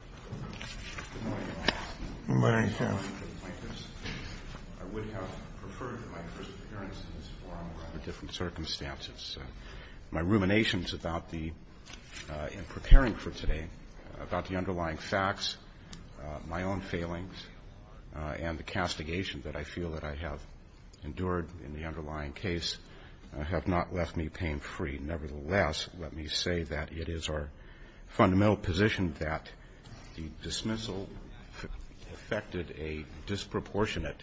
I would have preferred my first appearance in this forum rather than the different circumstances. My ruminations about the – in preparing for today about the underlying facts, my own failings, and the castigation that I feel that I have endured in the underlying case have not left me pain-free. Nevertheless, let me say that it is our fundamental position that the dismissal affected a disproportionate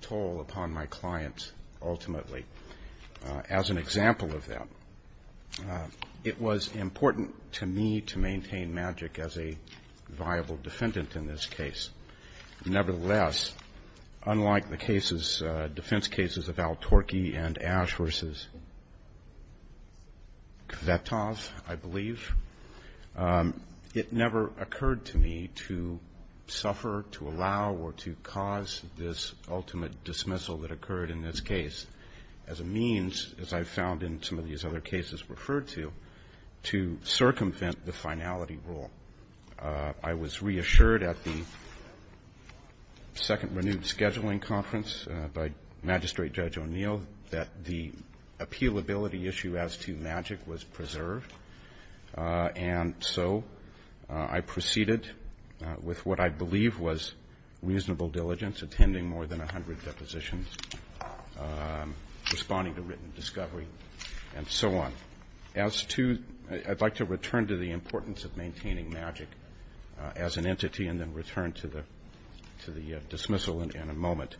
toll upon my clients ultimately. As an example of that, it was important to me to maintain magic as a viable defendant in this case. Nevertheless, unlike the cases, defense cases of Al-Turki and Ash versus Kvetov, I believe, it never occurred to me to suffer, to allow, or to cause this ultimate dismissal that occurred in this case as a means, as I found in some of these other cases referred to, to circumvent the finality rule. I was reassured at the second renewed scheduling conference by Magistrate Judge O'Neill that the appealability issue as to magic was preserved, and so I proceeded with what I believe was reasonable diligence, attending more than 100 depositions, responding to written discovery, and so on. I'd like to return to the importance of maintaining magic as an entity and then return to the dismissal in a moment.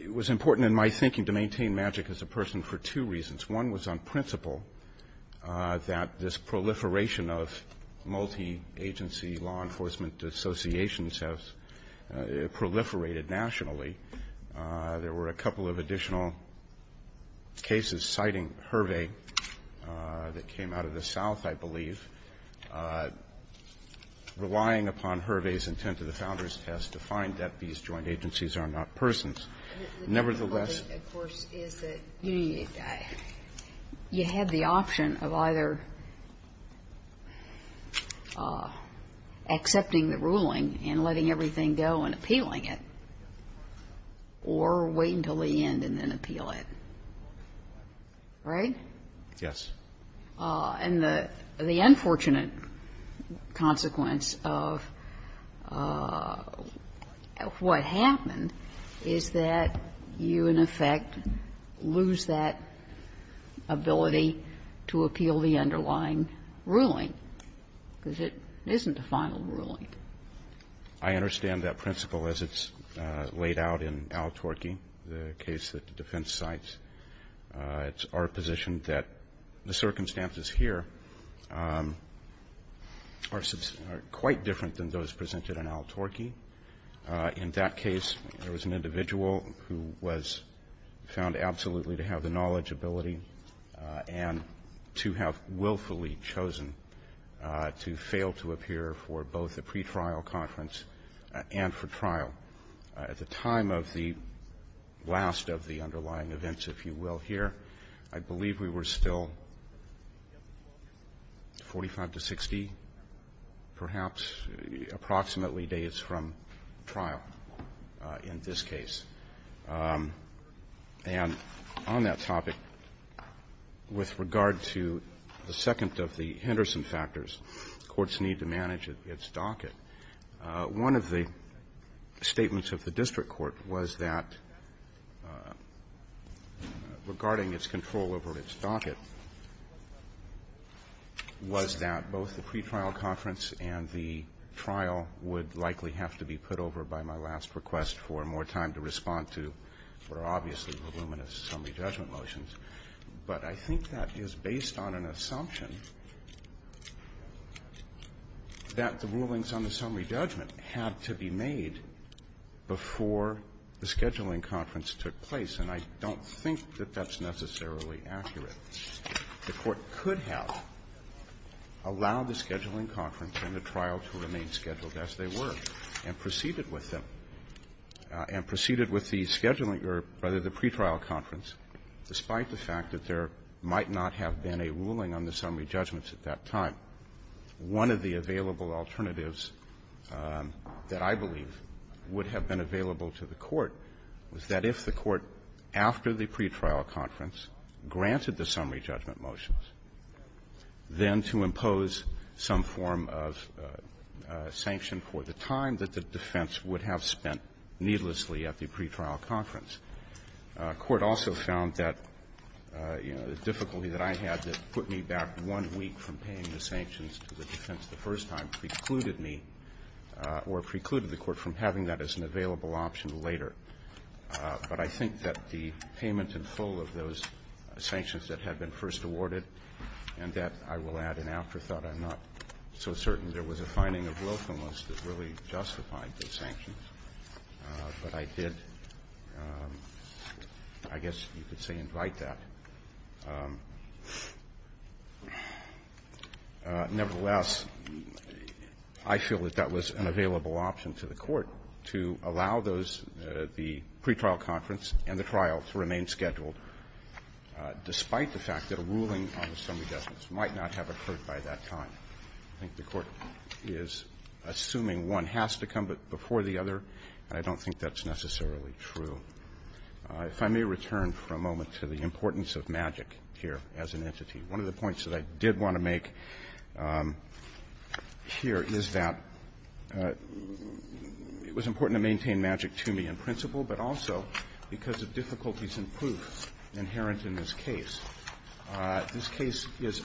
It was important in my thinking to maintain magic as a person for two reasons. One was on principle that this proliferation of multi-agency law enforcement associations has proliferated nationally. There were a couple of additional cases citing HIRVE that came out of the South, I believe. Relying upon HIRVE's intent of the Founders' Test to find that these joint agencies are not persons. Nevertheless the difficulty, of course, is that you had the option of either accepting the ruling and letting everything go and appealing it, or wait until the end and then appeal it, right? Yes. And the unfortunate consequence of what happened is that you, in effect, lose that I understand that principle as it's laid out in Al-Turki, the case that the defense cites. It's our position that the circumstances here are quite different than those presented in Al-Turki. In that case, there was an individual who was found absolutely to have the knowledge, and to have willfully chosen to fail to appear for both the pretrial conference and for trial. At the time of the last of the underlying events, if you will, here, I believe we were still 45 to 60, perhaps, approximately, days from trial in this case. And on that topic, with regard to the second of the Henderson factors, courts need to manage its docket. One of the statements of the district court was that regarding its control over its docket was that both the pretrial conference and the trial would likely have to be put over by my last request for more time to respond to what are obviously voluminous summary judgment motions. But I think that is based on an assumption that the rulings on the summary judgment had to be made before the scheduling conference took place. And I don't think that that's necessarily accurate. The court could have allowed the scheduling conference and the trial to remain scheduled as they were and proceeded with them, and proceeded with the scheduling or rather the pretrial conference, despite the fact that there might not have been a ruling on the summary judgments at that time. One of the available alternatives that I believe would have been available to the court was that if the court, after the pretrial conference, granted the summary judgment motions, then to impose some form of sanction for the time that the defense would have spent needlessly at the pretrial conference. Court also found that, you know, the difficulty that I had that put me back one week from paying the sanctions to the defense the first time precluded me or precluded the court from having that as an available option later. But I think that the payment in full of those sanctions that had been first awarded and that, I will add an afterthought, I'm not so certain there was a finding of willfulness that really justified the sanctions, but I did, I guess you could say invite that. Nevertheless, I feel that that was an available option to the court to allow those the pretrial conference and the trial to remain scheduled, despite the fact that a ruling on the summary judgments might not have occurred by that time. I think the Court is assuming one has to come before the other, and I don't think that's necessarily true. If I may return for a moment to the importance of magic here as an entity. One of the points that I did want to make here is that it was important to maintain magic to me in principle, but also because of difficulties in proof inherent in this case. This case is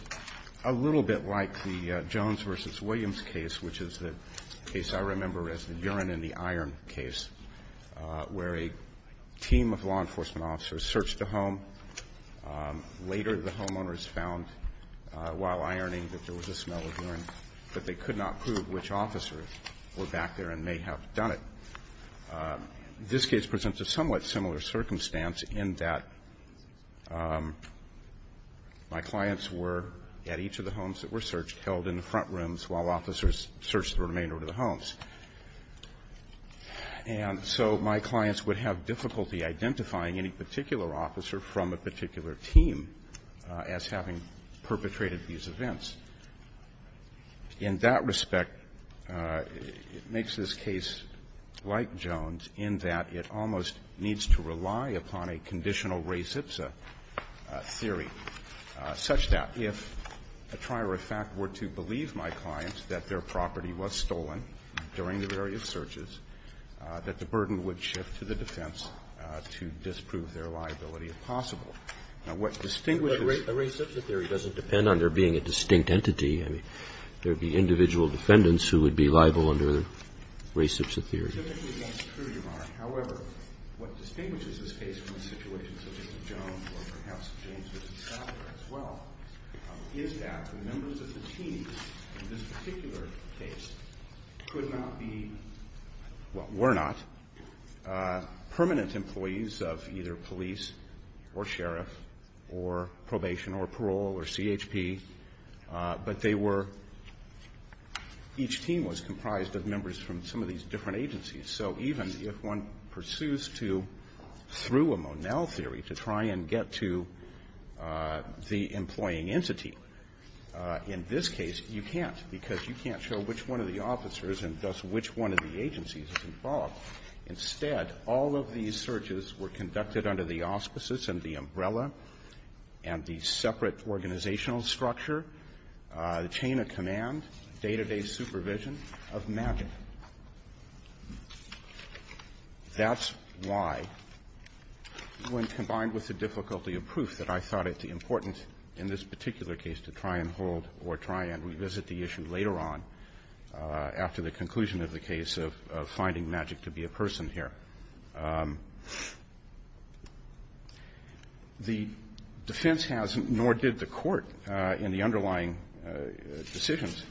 a little bit like the Jones v. Williams case, which is the case I remember as the urine in the iron case, where a team of law enforcement officers searched a home. Later, the homeowners found while ironing that there was a smell of urine, but they This case presents a somewhat similar circumstance in that my clients were, at each of the homes that were searched, held in the front rooms while officers searched the remainder of the homes. And so my clients would have difficulty identifying any particular officer from a particular team as having perpetrated these events. In that respect, it makes this case like Jones in that it almost needs to rely upon a conditional res ipsa theory, such that if a trier of fact were to believe my clients that their property was stolen during the various searches, that the burden would shift to the defense to disprove their liability if possible. Now, what distinguishes But a res ipsa theory doesn't depend on there being a distinct entity. I mean, there would be individual defendants who would be liable under res ipsa theory. Typically, that's true, Your Honor. However, what distinguishes this case from situations such as the Jones or perhaps the James v. Southern as well is that the members of the team in this particular case could not be, well, were not permanent employees of either police or sheriff or probation or parole or CHP, but they were, each team was comprised of members from some of these different agencies. So even if one pursues to, through a Monell theory, to try and get to the employing entity, in this case you can't, because you can't show which one of the officers Instead, all of these searches were conducted under the auspices and the umbrella and the separate organizational structure, the chain of command, day-to-day supervision of magic. That's why, when combined with the difficulty of proof that I thought it important in this particular case to try and hold or try and revisit the issue later on after the conclusion of the case of finding magic to be a person here. The defense has, nor did the Court in the underlying decisions,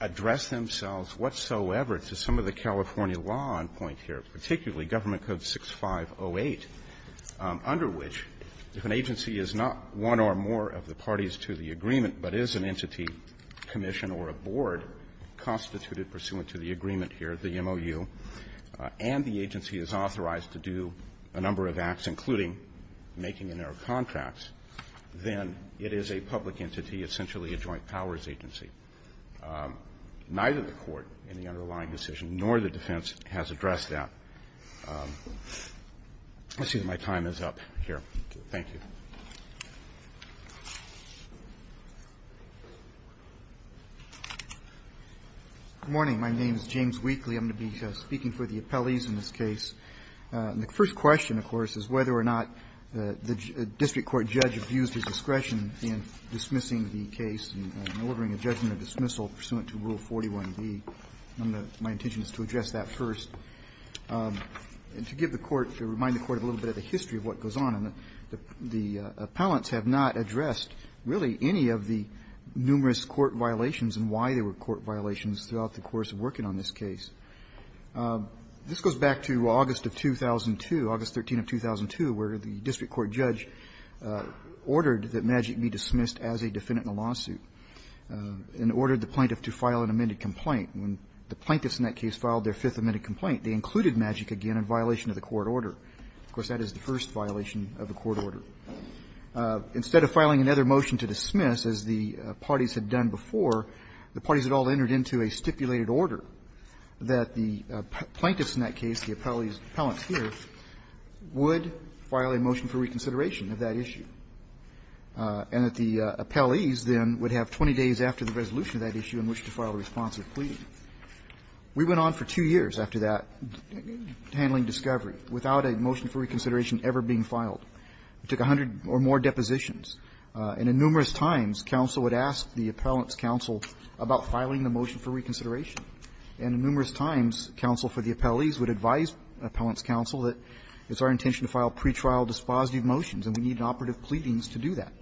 address themselves whatsoever to some of the California law on point here, particularly Government Code 6508, under which, if an agency is not one or more of the parties to the agreement, but is an entity, commission, or a board constituted pursuant to the agreement here, the MOU, and the agency is authorized to do a number of acts, including making in their contracts, then it is a public entity, essentially a joint powers agency. Neither the Court in the underlying decision nor the defense has addressed that. I see that my time is up here. Thank you. Weakley, I'm going to be speaking for the appellees in this case. The first question, of course, is whether or not the district court judge abused his discretion in dismissing the case and ordering a judgment of dismissal pursuant to Rule 41b. My intention is to address that first and to give the Court, to remind the Court a little bit of the history of what goes on. The appellants have not addressed, really, any of the numerous court violations and why there were court violations throughout the course of working on this case. This goes back to August of 2002, August 13 of 2002, where the district court judge ordered that Magic be dismissed as a defendant in a lawsuit and ordered the plaintiff to file an amended complaint. When the plaintiffs in that case filed their fifth amended complaint, they included Magic again in violation of the court order. Of course, that is the first violation of the court order. Instead of filing another motion to dismiss, as the parties had done before, the parties had all entered into a stipulated order that the plaintiffs in that case, the appellants here, would file a motion for reconsideration of that issue, and that the appellees then would have 20 days after the resolution of that issue in which to file a response of pleading. We went on for two years after that, handling discovery, without a motion for reconsideration ever being filed. We took 100 or more depositions, and in numerous times, counsel would ask the appellant's counsel about filing a motion for reconsideration. And in numerous times, counsel for the appellees would advise the appellant's counsel that it's our intention to file pretrial dispositive motions and we need operative pleadings to do that.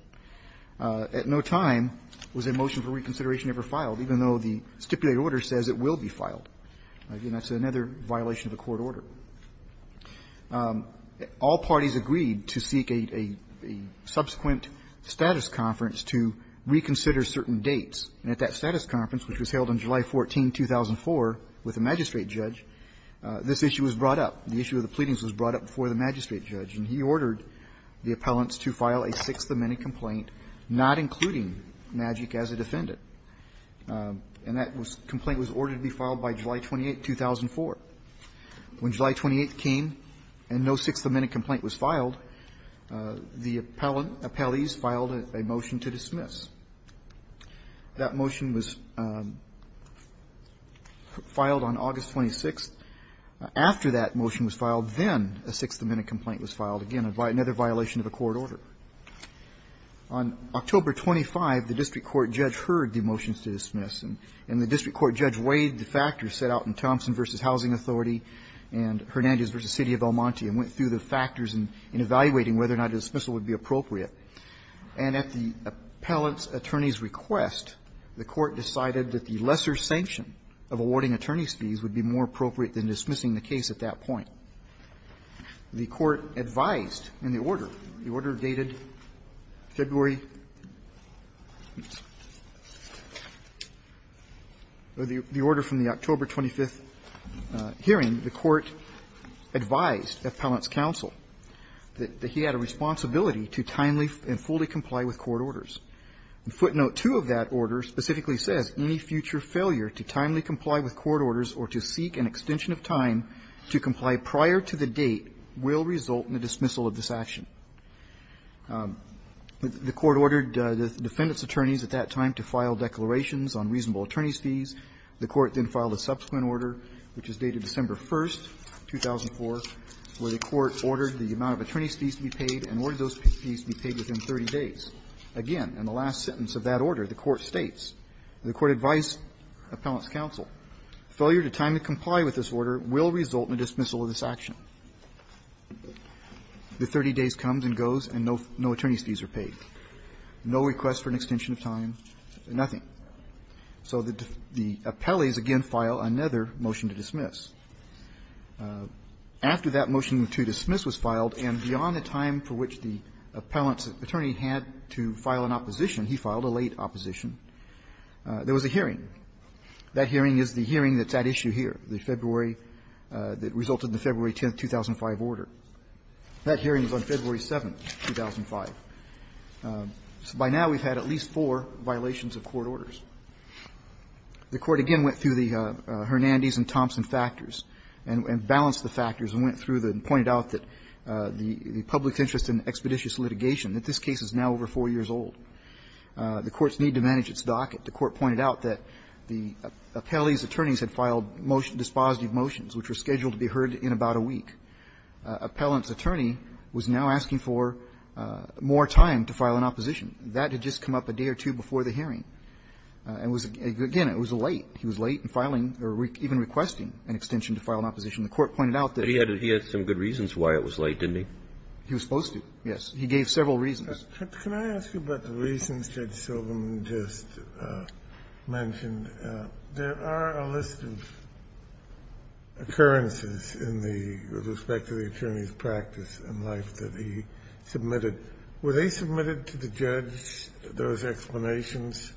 At no time was a motion for reconsideration ever filed, even though the stipulated order says it will be filed. Again, that's another violation of the court order. All parties agreed to seek a subsequent status conference to reconsider certain dates, and at that status conference, which was held on July 14, 2004, with a magistrate judge, this issue was brought up. The issue of the pleadings was brought up before the magistrate judge, and he ordered the appellants to file a sixth-minute complaint, not including Magic as a defendant. And that complaint was ordered to be filed by July 28, 2004. When July 28 came and no sixth-minute complaint was filed, the appellees filed a motion to dismiss. That motion was filed on August 26. After that motion was filed, then a sixth-minute complaint was filed. Again, another violation of the court order. On October 25, the district court judge heard the motions to dismiss, and the district court judge weighed the factors set out in Thompson v. Housing Authority and Hernandez v. City of El Monte and went through the factors in evaluating whether or not a dismissal would be appropriate. And at the appellant's attorney's request, the court decided that the lesser sanction of awarding attorney's fees would be more appropriate than dismissing the case at that point. The court advised in the order, the order dated February or the order from the October 25 hearing, the court advised the appellant's counsel that he had a responsibility to timely and fully comply with court orders. Footnote 2 of that order specifically says, any future failure to timely comply with court orders or to seek an extension of time to comply prior to the date will result in the dismissal of this action. The court ordered the defendant's attorneys at that time to file declarations on reasonable attorney's fees. The court then filed a subsequent order, which is dated December 1, 2004, where the court ordered the amount of attorney's fees to be paid and ordered those fees to be paid within 30 days. Again, in the last sentence of that order, the court states, the court advised appellant's counsel, failure to timely comply with this order will result in a dismissal of this action. The 30 days comes and goes and no attorney's fees are paid, no request for an extension of time, nothing. So the appellees again file another motion to dismiss. After that motion to dismiss was filed and beyond the time for which the appellant's counsel had to file an opposition, he filed a late opposition, there was a hearing. That hearing is the hearing that's at issue here, the February, that resulted in the February 10, 2005 order. That hearing was on February 7, 2005. So by now we've had at least four violations of court orders. The court again went through the Hernandez and Thompson factors and balanced the factors and went through them and pointed out that the public interest in expeditious litigation, that this case is now over four years old, the courts need to manage its docket. The court pointed out that the appellee's attorneys had filed dispositive motions, which were scheduled to be heard in about a week. Appellant's attorney was now asking for more time to file an opposition. That had just come up a day or two before the hearing. And it was, again, it was late. He was late in filing or even requesting an extension to file an opposition. The court pointed out that he had some good reasons why it was late, didn't he? He was supposed to, yes. He gave several reasons. Kennedy. Can I ask you about the reasons Judge Silverman just mentioned? There are a list of occurrences in the respect to the attorney's practice and life that he submitted. Were they submitted to the judge, those explanations?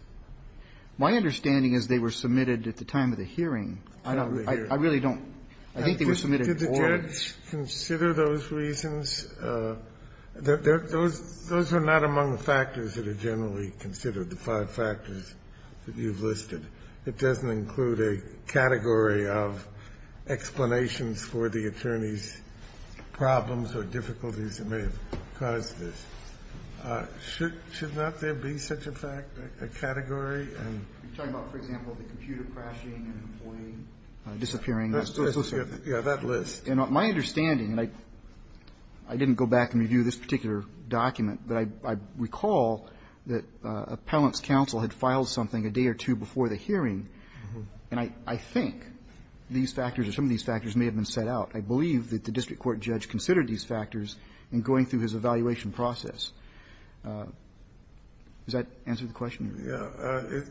My understanding is they were submitted at the time of the hearing. I really don't. I think they were submitted before. Did the judge consider those reasons? Those are not among the factors that are generally considered, the five factors that you've listed. It doesn't include a category of explanations for the attorney's problems or difficulties that may have caused this. Should not there be such a fact, a category? You're talking about, for example, the computer crashing and an employee disappearing in the process? Yes, that list. And my understanding, and I didn't go back and review this particular document, but I recall that Appellant's counsel had filed something a day or two before the hearing, and I think these factors or some of these factors may have been set out. I believe that the district court judge considered these factors in going through his evaluation process. Does that answer the question? Yes.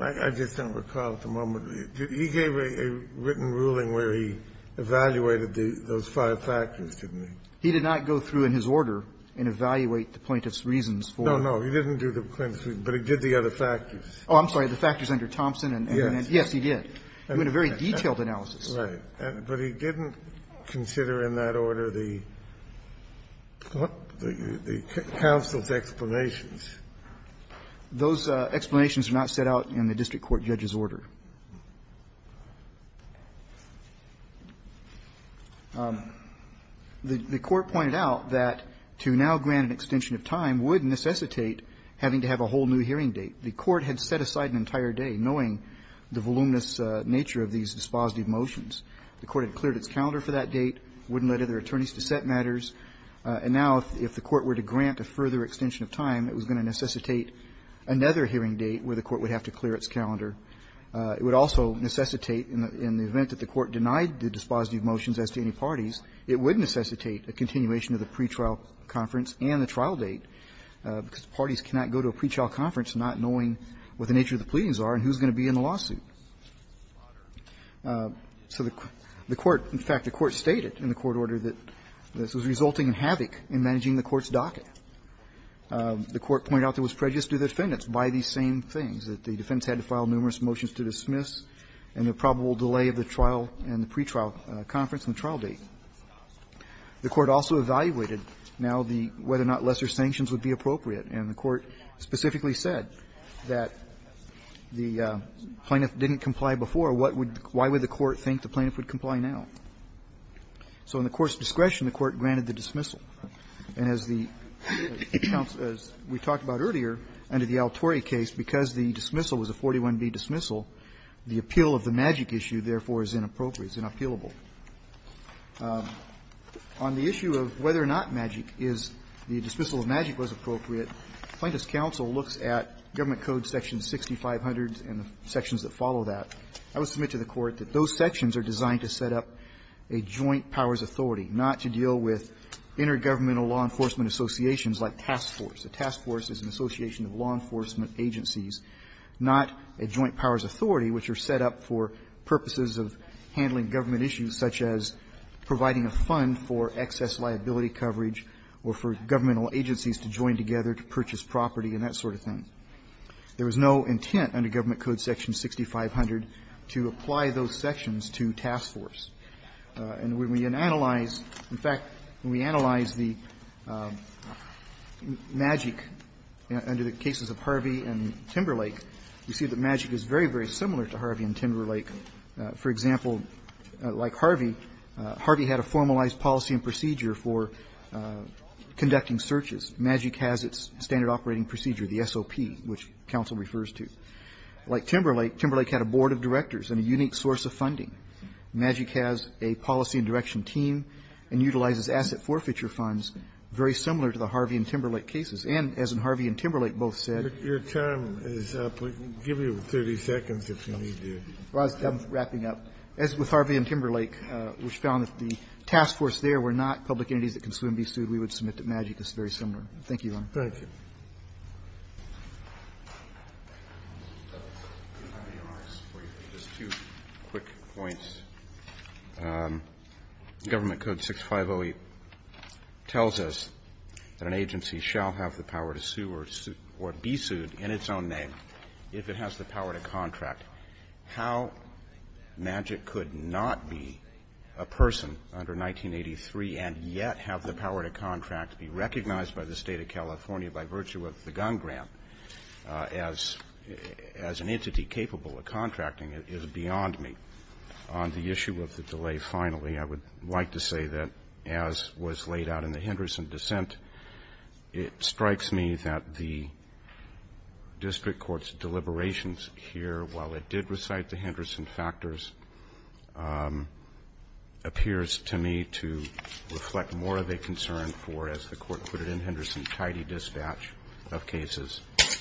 I just don't recall at the moment. He gave a written ruling where he evaluated those five factors, didn't he? He did not go through in his order and evaluate the plaintiff's reasons for them. No, no. He didn't do the plaintiff's reasons, but he did the other factors. Oh, I'm sorry. The factors under Thompson and then the other factors. Yes, he did. He did a very detailed analysis. Right. But he didn't consider in that order the counsel's explanations. Those explanations are not set out in the district court judge's order. The Court pointed out that to now grant an extension of time would necessitate having to have a whole new hearing date. The Court had set aside an entire day knowing the voluminous nature of these dispositive motions. The Court had cleared its calendar for that date, wouldn't let other attorneys to set matters. And now if the Court were to grant a further extension of time, it was going to necessitate another hearing date where the Court would have to clear its calendar. It would also necessitate, in the event that the Court denied the dispositive motions as to any parties, it would necessitate a continuation of the pretrial conference and the trial date, because parties cannot go to a pretrial conference not knowing what the nature of the pleadings are and who's going to be in the lawsuit. So the Court, in fact, the Court stated in the court order that this was resulting in havoc in managing the Court's docket. The Court pointed out there was prejudice to the defendants by these same things, that the defendants had to file numerous motions to dismiss and the probable delay of the trial and the pretrial conference and the trial date. The Court also evaluated now the whether or not lesser sanctions would be appropriate. And the Court specifically said that the plaintiff didn't comply before. What would the Court think the plaintiff would comply now? So in the Court's discretion, the Court granted the dismissal. And as the Counsel as we talked about earlier under the Altori case, because the dismissal was a 41B dismissal, the appeal of the magic issue, therefore, is inappropriate. It's inappealable. On the issue of whether or not magic is the dismissal of magic was appropriate, the Plaintiff's counsel looks at Government Code section 6500 and the sections that follow that. I would submit to the Court that those sections are designed to set up a joint powers authority, not to deal with intergovernmental law enforcement associations like task force. A task force is an association of law enforcement agencies, not a joint powers authority, which are set up for purposes of handling government issues such as providing a fund for excess liability coverage or for governmental agencies to join together to purchase property and that sort of thing. There was no intent under Government Code section 6500 to apply those sections to task force. And when we analyze, in fact, when we analyze the magic under the cases of Harvey and Timberlake, we see that magic is very, very similar to Harvey and Timberlake. For example, like Harvey, Harvey had a formalized policy and procedure for conducting searches. Magic has its standard operating procedure, the SOP, which counsel refers to. Like Timberlake, Timberlake had a board of directors and a unique source of funding. Magic has a policy and direction team and utilizes asset forfeiture funds very similar to the Harvey and Timberlake cases. And as Harvey and Timberlake both said the task force there were not public entities that can sue and be sued, we would submit that magic is very similar. Thank you, Your Honor. Thank you. Roberts. Just two quick points. Government Code 6508 tells us that an agency shall have the power to sue or be sued in its own name if it has the power to contract. How magic could not be a person under 1983 and yet have the power to contract to be recognized by the State of California by virtue of the gun grant as an entity capable of contracting is beyond me. On the issue of the delay, finally, I would like to say that as was laid out in the Henderson dissent, it strikes me that the district court's deliberations here, while it did recite the Henderson factors, appears to me to reflect more of a concern for, as the court put it in Henderson, tidy dispatch of cases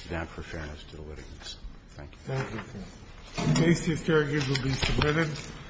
than for fairness to the litigants. Thank you. Thank you, Your Honor. The case to be submitted.